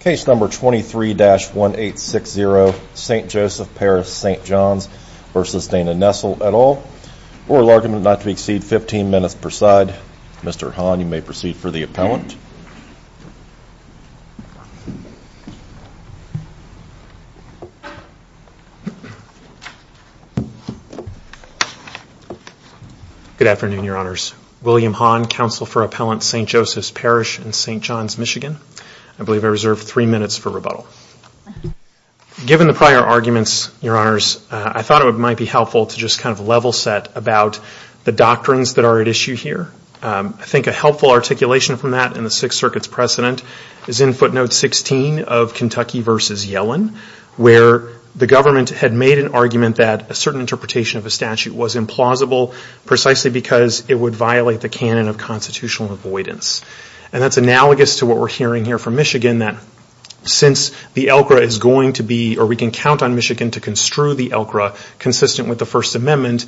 Case number 23-1860 St. Joseph Parish St. Johns v. Dana Nessel et al. Oral argument not to exceed 15 minutes per side. Mr. Hahn, you may proceed for the appellant. Good afternoon, Your Honors. William Hahn, Counsel for Appellant St. Joseph's Parish in St. Johns, Michigan. I believe I reserved three minutes for rebuttal. Given the prior arguments, Your Honors, I thought it might be helpful to just kind of level set about the doctrines that are at issue here. I think a helpful articulation from that in the Sixth Circuit's precedent is in footnote 16 of Kentucky v. Yellen, where the government had made an argument that a certain interpretation of a statute was implausible precisely because it would violate the canon of constitutional avoidance. And that's analogous to what we're hearing here from Michigan that since the ELCRA is going to be, or we can count on Michigan to construe the ELCRA consistent with the First Amendment,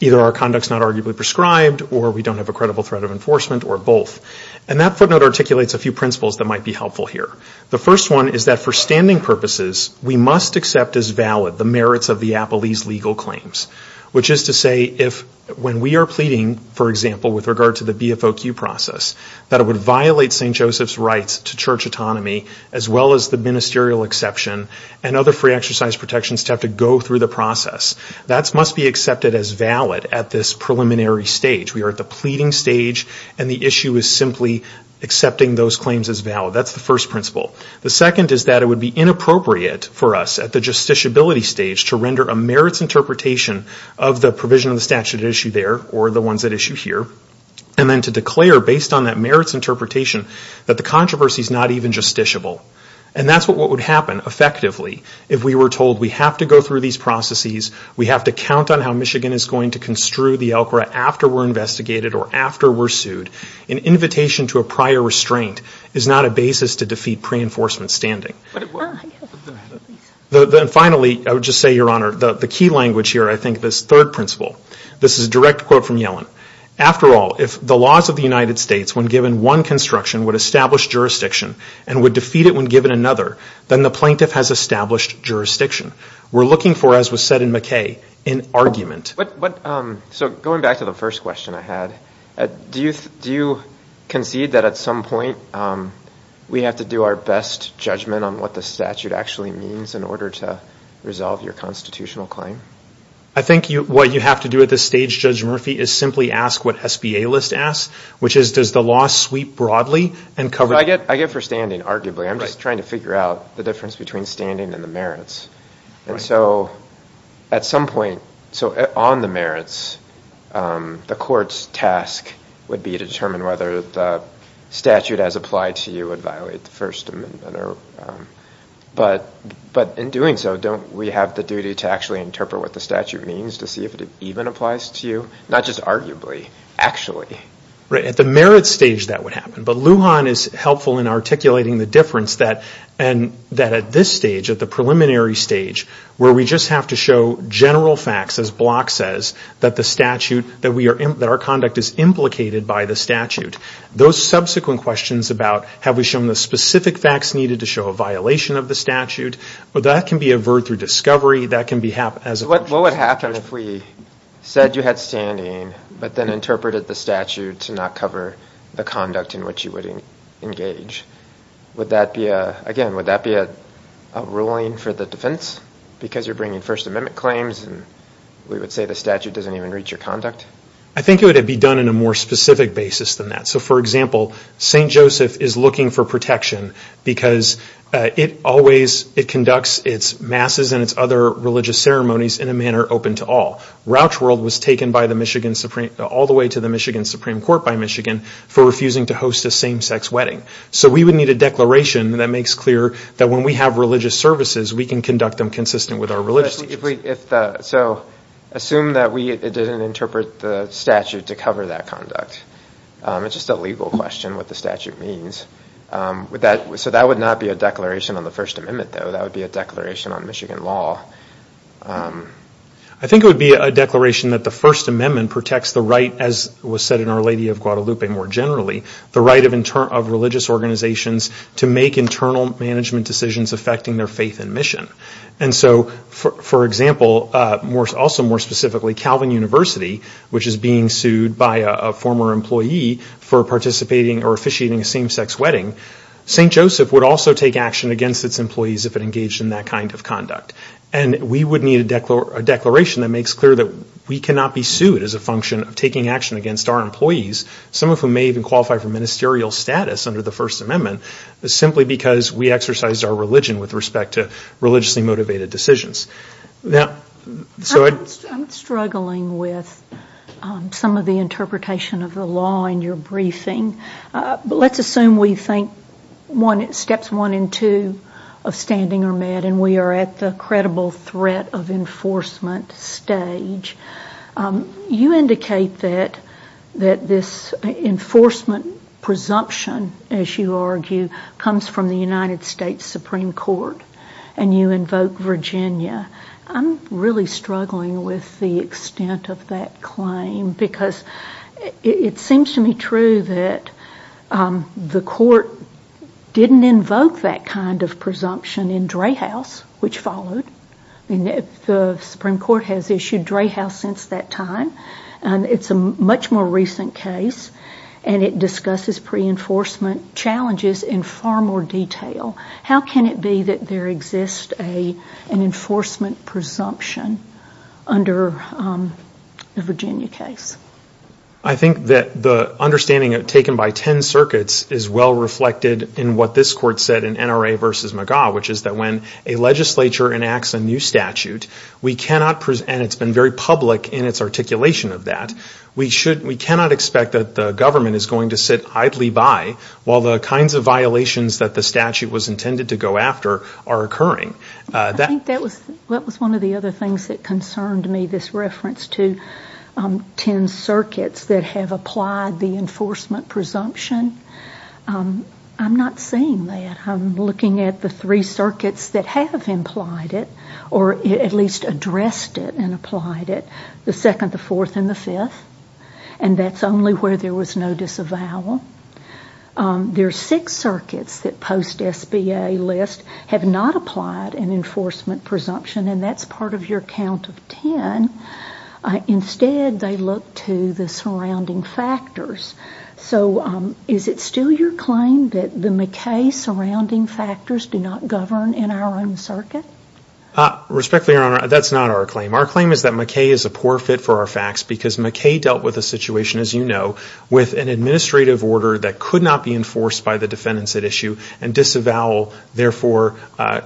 either our conduct's not arguably prescribed or we don't have a credible threat of enforcement or both. And that footnote articulates a few principles that might be helpful here. The first one is that for standing purposes, we must accept as valid the merits of the appellee's legal claims, which is to say if when we are pleading, for example, with regard to the BFOQ process, that it would violate St. Joseph's rights to church autonomy as well as the ministerial exception and other free exercise protections to have to go through the process. That must be accepted as valid at this preliminary stage. We are at the pleading stage, and the issue is simply accepting those claims as valid. That's the first principle. The second is that it would be inappropriate for us at the justiciability stage to render a merits interpretation of the provision of the statute at issue there or the ones at issue here, and then to declare based on that merits interpretation that the controversy is not even justiciable. And that's what would happen effectively if we were told we have to go through these processes, we have to count on how Michigan is going to construe the ELCRA after we're investigated or after we're sued. An invitation to a prior restraint is not a basis to defeat pre-enforcement standing. And finally, I would just say, Your Honor, the key language here, I think, this third principle. This is a direct quote from Yellen. After all, if the laws of the United States, when given one construction, would establish jurisdiction and would defeat it when given another, then the plaintiff has established jurisdiction. We're looking for, as was said in McKay, an argument. So going back to the first question I had, do you concede that at some point we have to do our best judgment on what the statute actually means in order to resolve your constitutional claim? I think what you have to do at this stage, Judge Murphy, is simply ask what SBA list asks, which is does the law sweep broadly and cover the- I get for standing, arguably. I'm just trying to figure out the difference between standing and the merits. And so at some point, on the merits, the court's task would be to determine whether the statute as applied to you would violate the First Amendment. But in doing so, don't we have the duty to actually interpret what the statute means to see if it even applies to you? Not just arguably, actually. At the merit stage, that would happen. But Lujan is helpful in articulating the difference that at this stage, at the preliminary stage, where we just have to show general facts, as Block says, that our conduct is implicated by the statute. Those subsequent questions about have we shown the specific facts needed to show a violation of the statute, that can be averred through discovery. That can be- What would happen if we said you had standing but then interpreted the statute to not cover the conduct in which you would engage? Again, would that be a ruling for the defense because you're bringing First Amendment claims and we would say the statute doesn't even reach your conduct? I think it would be done in a more specific basis than that. So, for example, St. Joseph is looking for protection because it conducts its masses and its other religious ceremonies in a manner open to all. Rouch World was taken all the way to the Michigan Supreme Court by Michigan for refusing to host a same-sex wedding. So we would need a declaration that makes clear that when we have religious services, we can conduct them consistent with our religious- So assume that we didn't interpret the statute to cover that conduct. It's just a legal question what the statute means. So that would not be a declaration on the First Amendment, though. That would be a declaration on Michigan law. I think it would be a declaration that the First Amendment protects the right, as was said in Our Lady of Guadalupe more generally, the right of religious organizations to make internal management decisions affecting their faith and mission. And so, for example, also more specifically, Calvin University, which is being sued by a former employee for participating or officiating a same-sex wedding, St. Joseph would also take action against its employees if it engaged in that kind of conduct. And we would need a declaration that makes clear that we cannot be sued as a function of taking action against our employees, some of whom may even qualify for ministerial status under the First Amendment, simply because we exercise our religion with respect to religiously motivated decisions. I'm struggling with some of the interpretation of the law in your briefing. But let's assume we think steps one and two of standing are met and we are at the credible threat of enforcement stage. You indicate that this enforcement presumption, as you argue, comes from the United States Supreme Court and you invoke Virginia. I'm really struggling with the extent of that claim because it seems to me true that the court didn't invoke that kind of presumption in Dreyhaus, which followed. The Supreme Court has issued Dreyhaus since that time. It's a much more recent case and it discusses pre-enforcement challenges in far more detail. How can it be that there exists an enforcement presumption under the Virginia case? I think that the understanding taken by 10 circuits is well-reflected in what this court said in NRA v. McGaugh, which is that when a legislature enacts a new statute, and it's been very public in its articulation of that, we cannot expect that the government is going to sit idly by while the kinds of violations that the statute was intended to go after are occurring. I think that was one of the other things that concerned me, this reference to 10 circuits that have applied the enforcement presumption. I'm not seeing that. I'm looking at the three circuits that have implied it, or at least addressed it and applied it, the second, the fourth, and the fifth, and that's only where there was no disavowal. There are six circuits that post-SBA list have not applied an enforcement presumption, and that's part of your count of 10. Instead, they look to the surrounding factors. So is it still your claim that the McKay surrounding factors do not govern in our own circuit? Respectfully, Your Honor, that's not our claim. Our claim is that McKay is a poor fit for our facts because McKay dealt with a situation, as you know, with an administrative order that could not be enforced by the defendants at issue, and disavowal, therefore,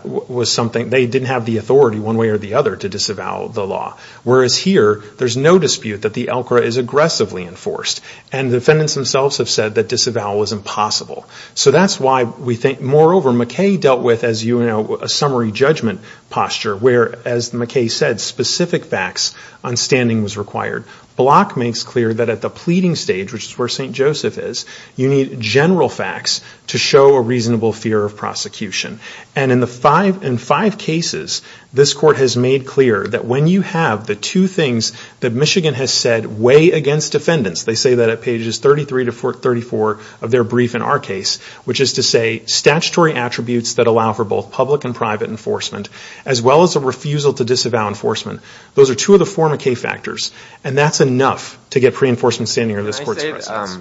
was something. They didn't have the authority one way or the other to disavow the law. Whereas here, there's no dispute that the ELCRA is aggressively enforced, and the defendants themselves have said that disavowal is impossible. So that's why we think, moreover, McKay dealt with, as you know, a summary judgment posture, where, as McKay said, specific facts on standing was required. Block makes clear that at the pleading stage, which is where St. Joseph is, you need general facts to show a reasonable fear of prosecution. And in five cases, this Court has made clear that when you have the two things that Michigan has said that weigh against defendants, they say that at pages 33 to 34 of their brief in our case, which is to say statutory attributes that allow for both public and private enforcement, as well as a refusal to disavow enforcement, those are two of the four McKay factors, and that's enough to get pre-enforcement standing under this Court's precedence.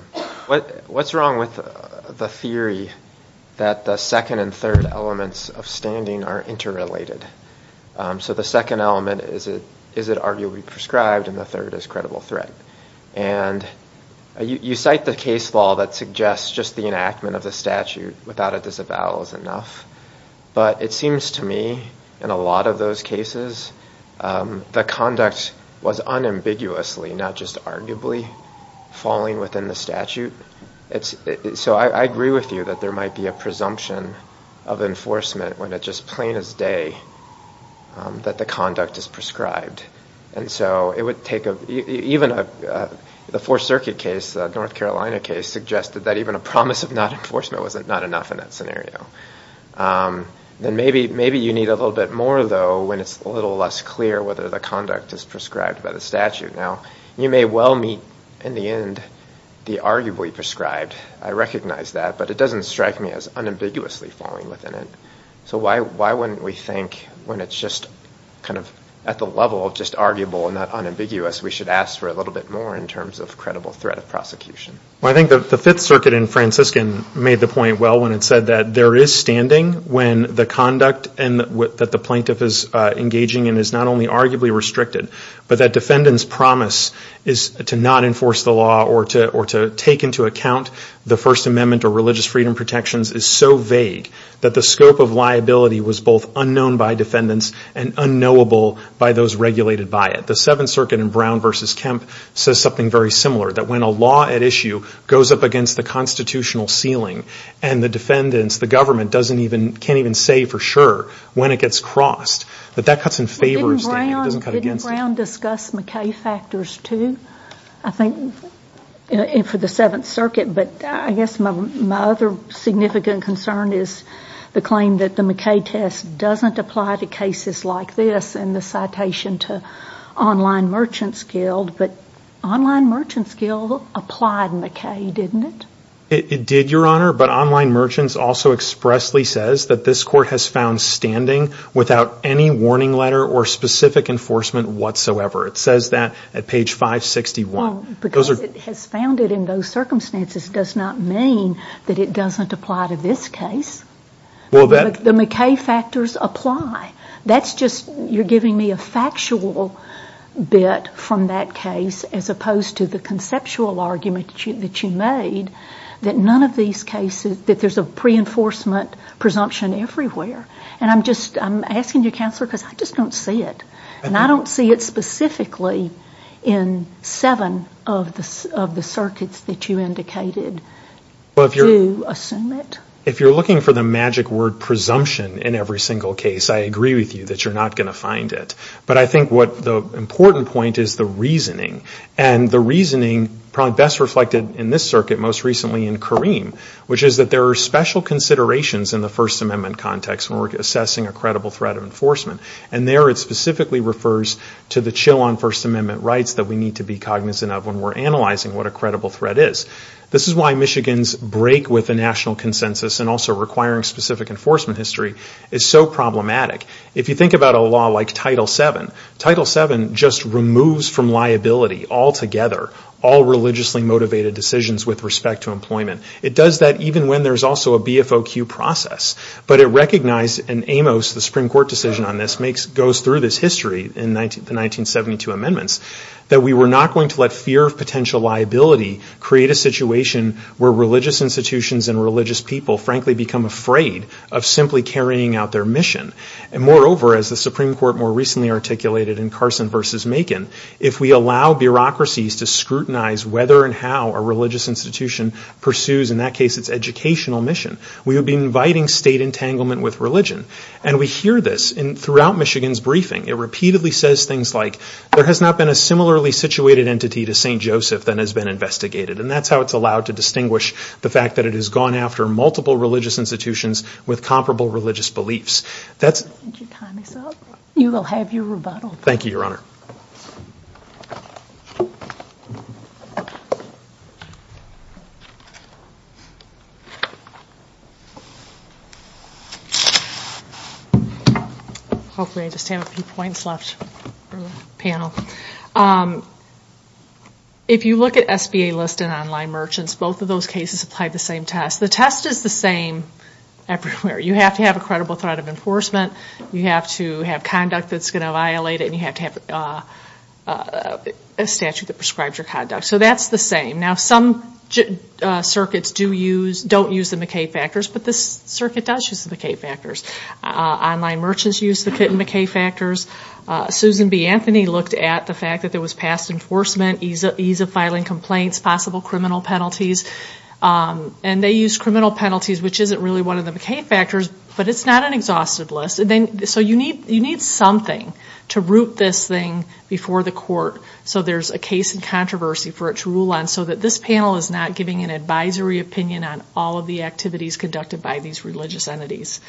What's wrong with the theory that the second and third elements of standing are interrelated? So the second element is it arguably prescribed, and the third is credible threat. And you cite the case law that suggests just the enactment of the statute without a disavowal is enough, but it seems to me in a lot of those cases the conduct was unambiguously, not just arguably, falling within the statute. So I agree with you that there might be a presumption of enforcement when it's just plain as day that the conduct is prescribed. And so it would take even a Fourth Circuit case, a North Carolina case, suggested that even a promise of not enforcement was not enough in that scenario. Then maybe you need a little bit more, though, when it's a little less clear whether the conduct is prescribed by the statute. Now, you may well meet in the end the arguably prescribed. I recognize that, but it doesn't strike me as unambiguously falling within it. So why wouldn't we think when it's just kind of at the level of just arguable and not unambiguous, we should ask for a little bit more in terms of credible threat of prosecution? Well, I think the Fifth Circuit in Franciscan made the point well when it said that there is standing when the conduct that the plaintiff is engaging in is not only arguably restricted, but that defendant's promise is to not enforce the law or to take into account the First Amendment or religious freedom protections is so vague that the scope of liability was both unknown by defendants and unknowable by those regulated by it. The Seventh Circuit in Brown v. Kemp says something very similar, that when a law at issue goes up against the constitutional ceiling and the defendants, the government, can't even say for sure when it gets crossed, that that cuts in favor of standing, it doesn't cut against it. Didn't Brown discuss McKay factors too, I think, for the Seventh Circuit? But I guess my other significant concern is the claim that the McKay test doesn't apply to cases like this and the citation to Online Merchants Guild, but Online Merchants Guild applied McKay, didn't it? It did, Your Honor, but Online Merchants also expressly says that this court has found standing without any warning letter or specific enforcement whatsoever. It says that at page 561. Because it has found it in those circumstances does not mean that it doesn't apply to this case. The McKay factors apply. That's just you're giving me a factual bit from that case as opposed to the conceptual argument that you made that there's a pre-enforcement presumption everywhere. And I'm asking you, Counselor, because I just don't see it. And I don't see it specifically in seven of the circuits that you indicated to assume it. If you're looking for the magic word presumption in every single case, I agree with you that you're not going to find it. But I think the important point is the reasoning. And the reasoning probably best reflected in this circuit most recently in Kareem, which is that there are special considerations in the First Amendment context when we're assessing a credible threat of enforcement. And there it specifically refers to the chill on First Amendment rights that we need to be cognizant of when we're analyzing what a credible threat is. This is why Michigan's break with the national consensus and also requiring specific enforcement history is so problematic. If you think about a law like Title VII, Title VII just removes from liability altogether all religiously motivated decisions with respect to employment. It does that even when there's also a BFOQ process. But it recognized in Amos, the Supreme Court decision on this, goes through this history in the 1972 amendments, that we were not going to let fear of potential liability create a situation where religious institutions and religious people, frankly, become afraid of simply carrying out their mission. And moreover, as the Supreme Court more recently articulated in Carson v. Macon, if we allow bureaucracies to scrutinize whether and how a religious institution pursues, in that case, its educational mission, we would be inviting state entanglement with religion. And we hear this throughout Michigan's briefing. It repeatedly says things like, there has not been a similarly situated entity to St. Joseph that has been investigated. And that's how it's allowed to distinguish the fact that it has gone after multiple religious institutions with comparable religious beliefs. You will have your rebuttal. Thank you, Your Honor. Hopefully I just have a few points left for the panel. If you look at SBA list and online merchants, both of those cases applied the same test. The test is the same everywhere. You have to have a credible threat of enforcement. You have to have conduct that's going to violate it. And you have to have a statute that prescribes your conduct. So that's the same. Now, some circuits don't use the McKay factors, but this circuit does use the McKay factors. Online merchants use the McKay factors. Susan B. Anthony looked at the fact that there was past enforcement, ease of filing complaints, possible criminal penalties. And they use criminal penalties, which isn't really one of the McKay factors, but it's not an exhaustive list. So you need something to root this thing before the court so there's a case in controversy for it to rule on so that this panel is not giving an advisory opinion on all of the activities conducted by these religious entities.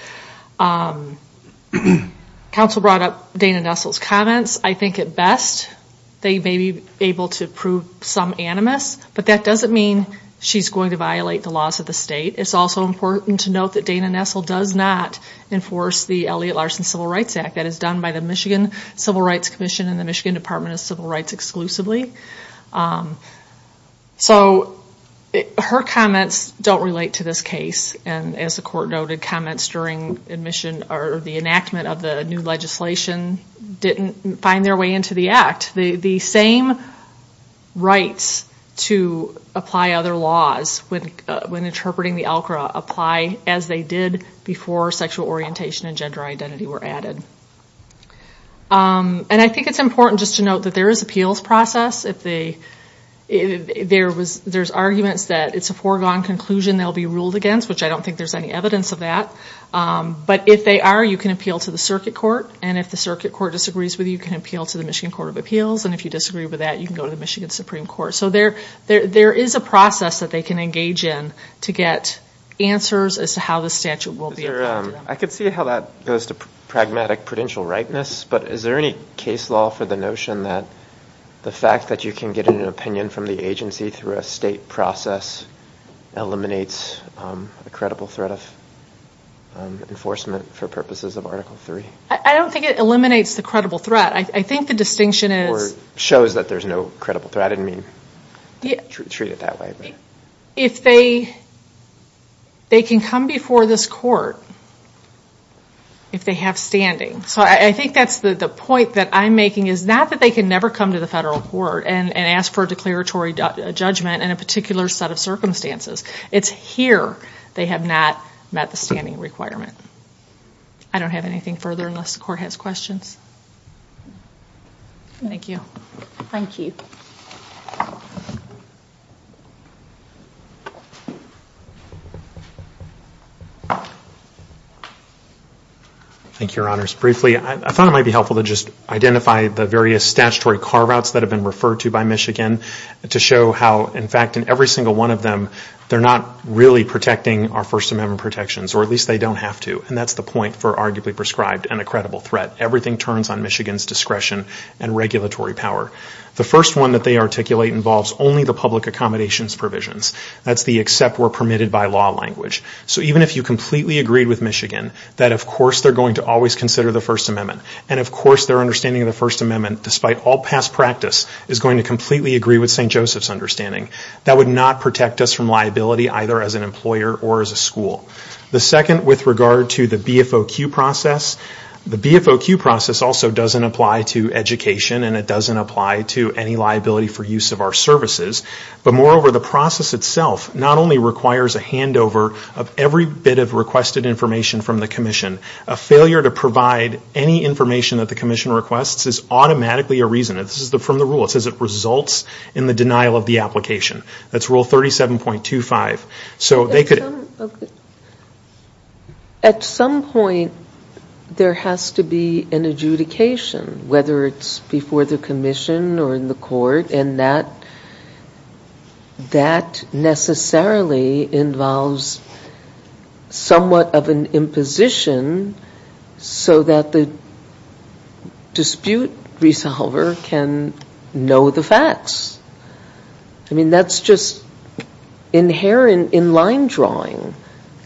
Counsel brought up Dana Nestle's comments. I think at best they may be able to prove some animus, but that doesn't mean she's going to violate the laws of the state. It's also important to note that Dana Nestle does not enforce the Elliot Larson Civil Rights Act. That is done by the Michigan Civil Rights Commission and the Michigan Department of Civil Rights exclusively. So her comments don't relate to this case. And as the court noted, comments during admission or the enactment of the new legislation didn't find their way into the act. The same rights to apply other laws when interpreting the ALCRA apply as they did before sexual orientation and gender identity were added. And I think it's important just to note that there is appeals process. There's arguments that it's a foregone conclusion they'll be ruled against, which I don't think there's any evidence of that. But if they are, you can appeal to the circuit court. And if the circuit court disagrees with you, you can appeal to the Michigan Court of Appeals. And if you disagree with that, you can go to the Michigan Supreme Court. So there is a process that they can engage in to get answers as to how the statute will be applied to them. I can see how that goes to pragmatic prudential rightness, but is there any case law for the notion that the fact that you can get an opinion from the agency through a state process eliminates a credible threat of enforcement for purposes of Article III? I don't think it eliminates the credible threat. I think the distinction is... Or shows that there's no credible threat. I didn't mean to treat it that way. If they can come before this court if they have standing. So I think that's the point that I'm making is not that they can never come to the federal court and ask for a declaratory judgment in a particular set of circumstances. It's here they have not met the standing requirement. I don't have anything further unless the court has questions. Thank you. Thank you, Your Honors. Briefly, I thought it might be helpful to just identify the various statutory carve-outs that have been referred to by Michigan to show how, in fact, in every single one of them, they're not really protecting our First Amendment protections, or at least they don't have to. And that's the point for arguably prescribed and a credible threat. Everything turns on Michigan's discretion and regulatory power. The first one that they articulate involves only the public accommodations provisions. That's the except we're permitted by law language. So even if you completely agree with Michigan that, of course, they're going to always consider the First Amendment and, of course, their understanding of the First Amendment, despite all past practice, is going to completely agree with St. Joseph's understanding. That would not protect us from liability either as an employer or as a school. The second with regard to the BFOQ process, the BFOQ process also doesn't apply to education and it doesn't apply to any liability for use of our services. But moreover, the process itself not only requires a handover of every bit of requested information from the commission, a failure to provide any information that the commission requests is automatically a reason. This is from the rule. It says it results in the denial of the application. That's rule 37.25. So they could... At some point there has to be an adjudication, whether it's before the commission or in the court, and that necessarily involves somewhat of an imposition so that the dispute resolver can know the facts. I mean, that's just inherent in line drawing.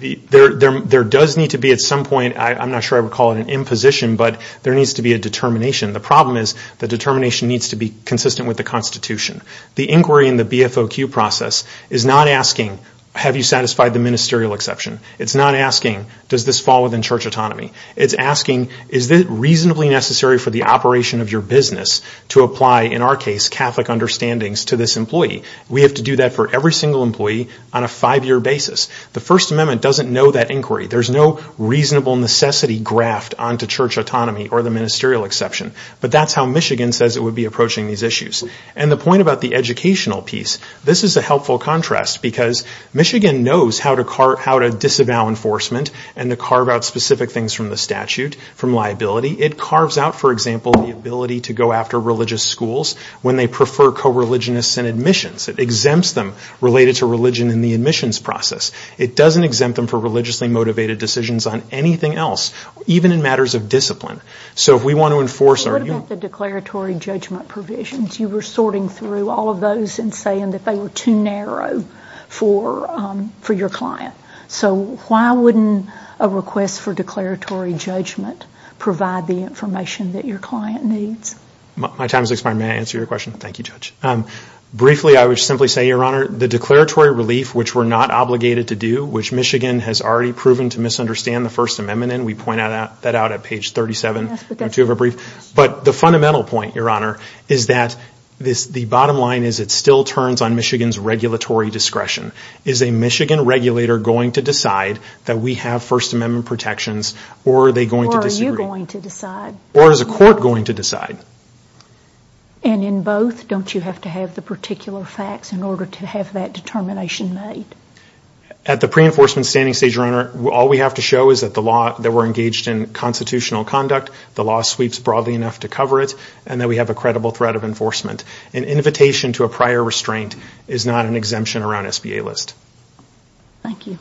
There does need to be at some point, I'm not sure I would call it an imposition, but there needs to be a determination. The problem is the determination needs to be consistent with the Constitution. The inquiry in the BFOQ process is not asking, have you satisfied the ministerial exception? It's not asking, does this fall within church autonomy? It's asking, is it reasonably necessary for the operation of your business to apply, in our case, Catholic understandings to this employee? We have to do that for every single employee on a five-year basis. The First Amendment doesn't know that inquiry. There's no reasonable necessity graft onto church autonomy or the ministerial exception. But that's how Michigan says it would be approaching these issues. And the point about the educational piece, this is a helpful contrast, because Michigan knows how to disavow enforcement and to carve out specific things from the statute, from liability. It carves out, for example, the ability to go after religious schools when they prefer co-religionists in admissions. It exempts them related to religion in the admissions process. It doesn't exempt them for religiously-motivated decisions on anything else, even in matters of discipline. So if we want to enforce our... What about the declaratory judgment provisions? You were sorting through all of those and saying that they were too narrow for your client. So why wouldn't a request for declaratory judgment provide the information that your client needs? My time has expired. May I answer your question? Briefly, I would simply say, Your Honor, the declaratory relief, which we're not obligated to do, which Michigan has already proven to misunderstand the First Amendment in, we point that out at page 37. But the fundamental point, Your Honor, is that the bottom line is it still turns on Michigan's regulatory discretion. Is a Michigan regulator going to decide that we have First Amendment protections, or are they going to disagree? Or is a court going to decide? And in both, don't you have to have the particular facts in order to have that determination made? At the pre-enforcement standing stage, Your Honor, all we have to show is that we're engaged in constitutional conduct, the law sweeps broadly enough to cover it, and that we have a credible threat of enforcement. An invitation to a prior restraint is not an exemption around SBA list. Thank you.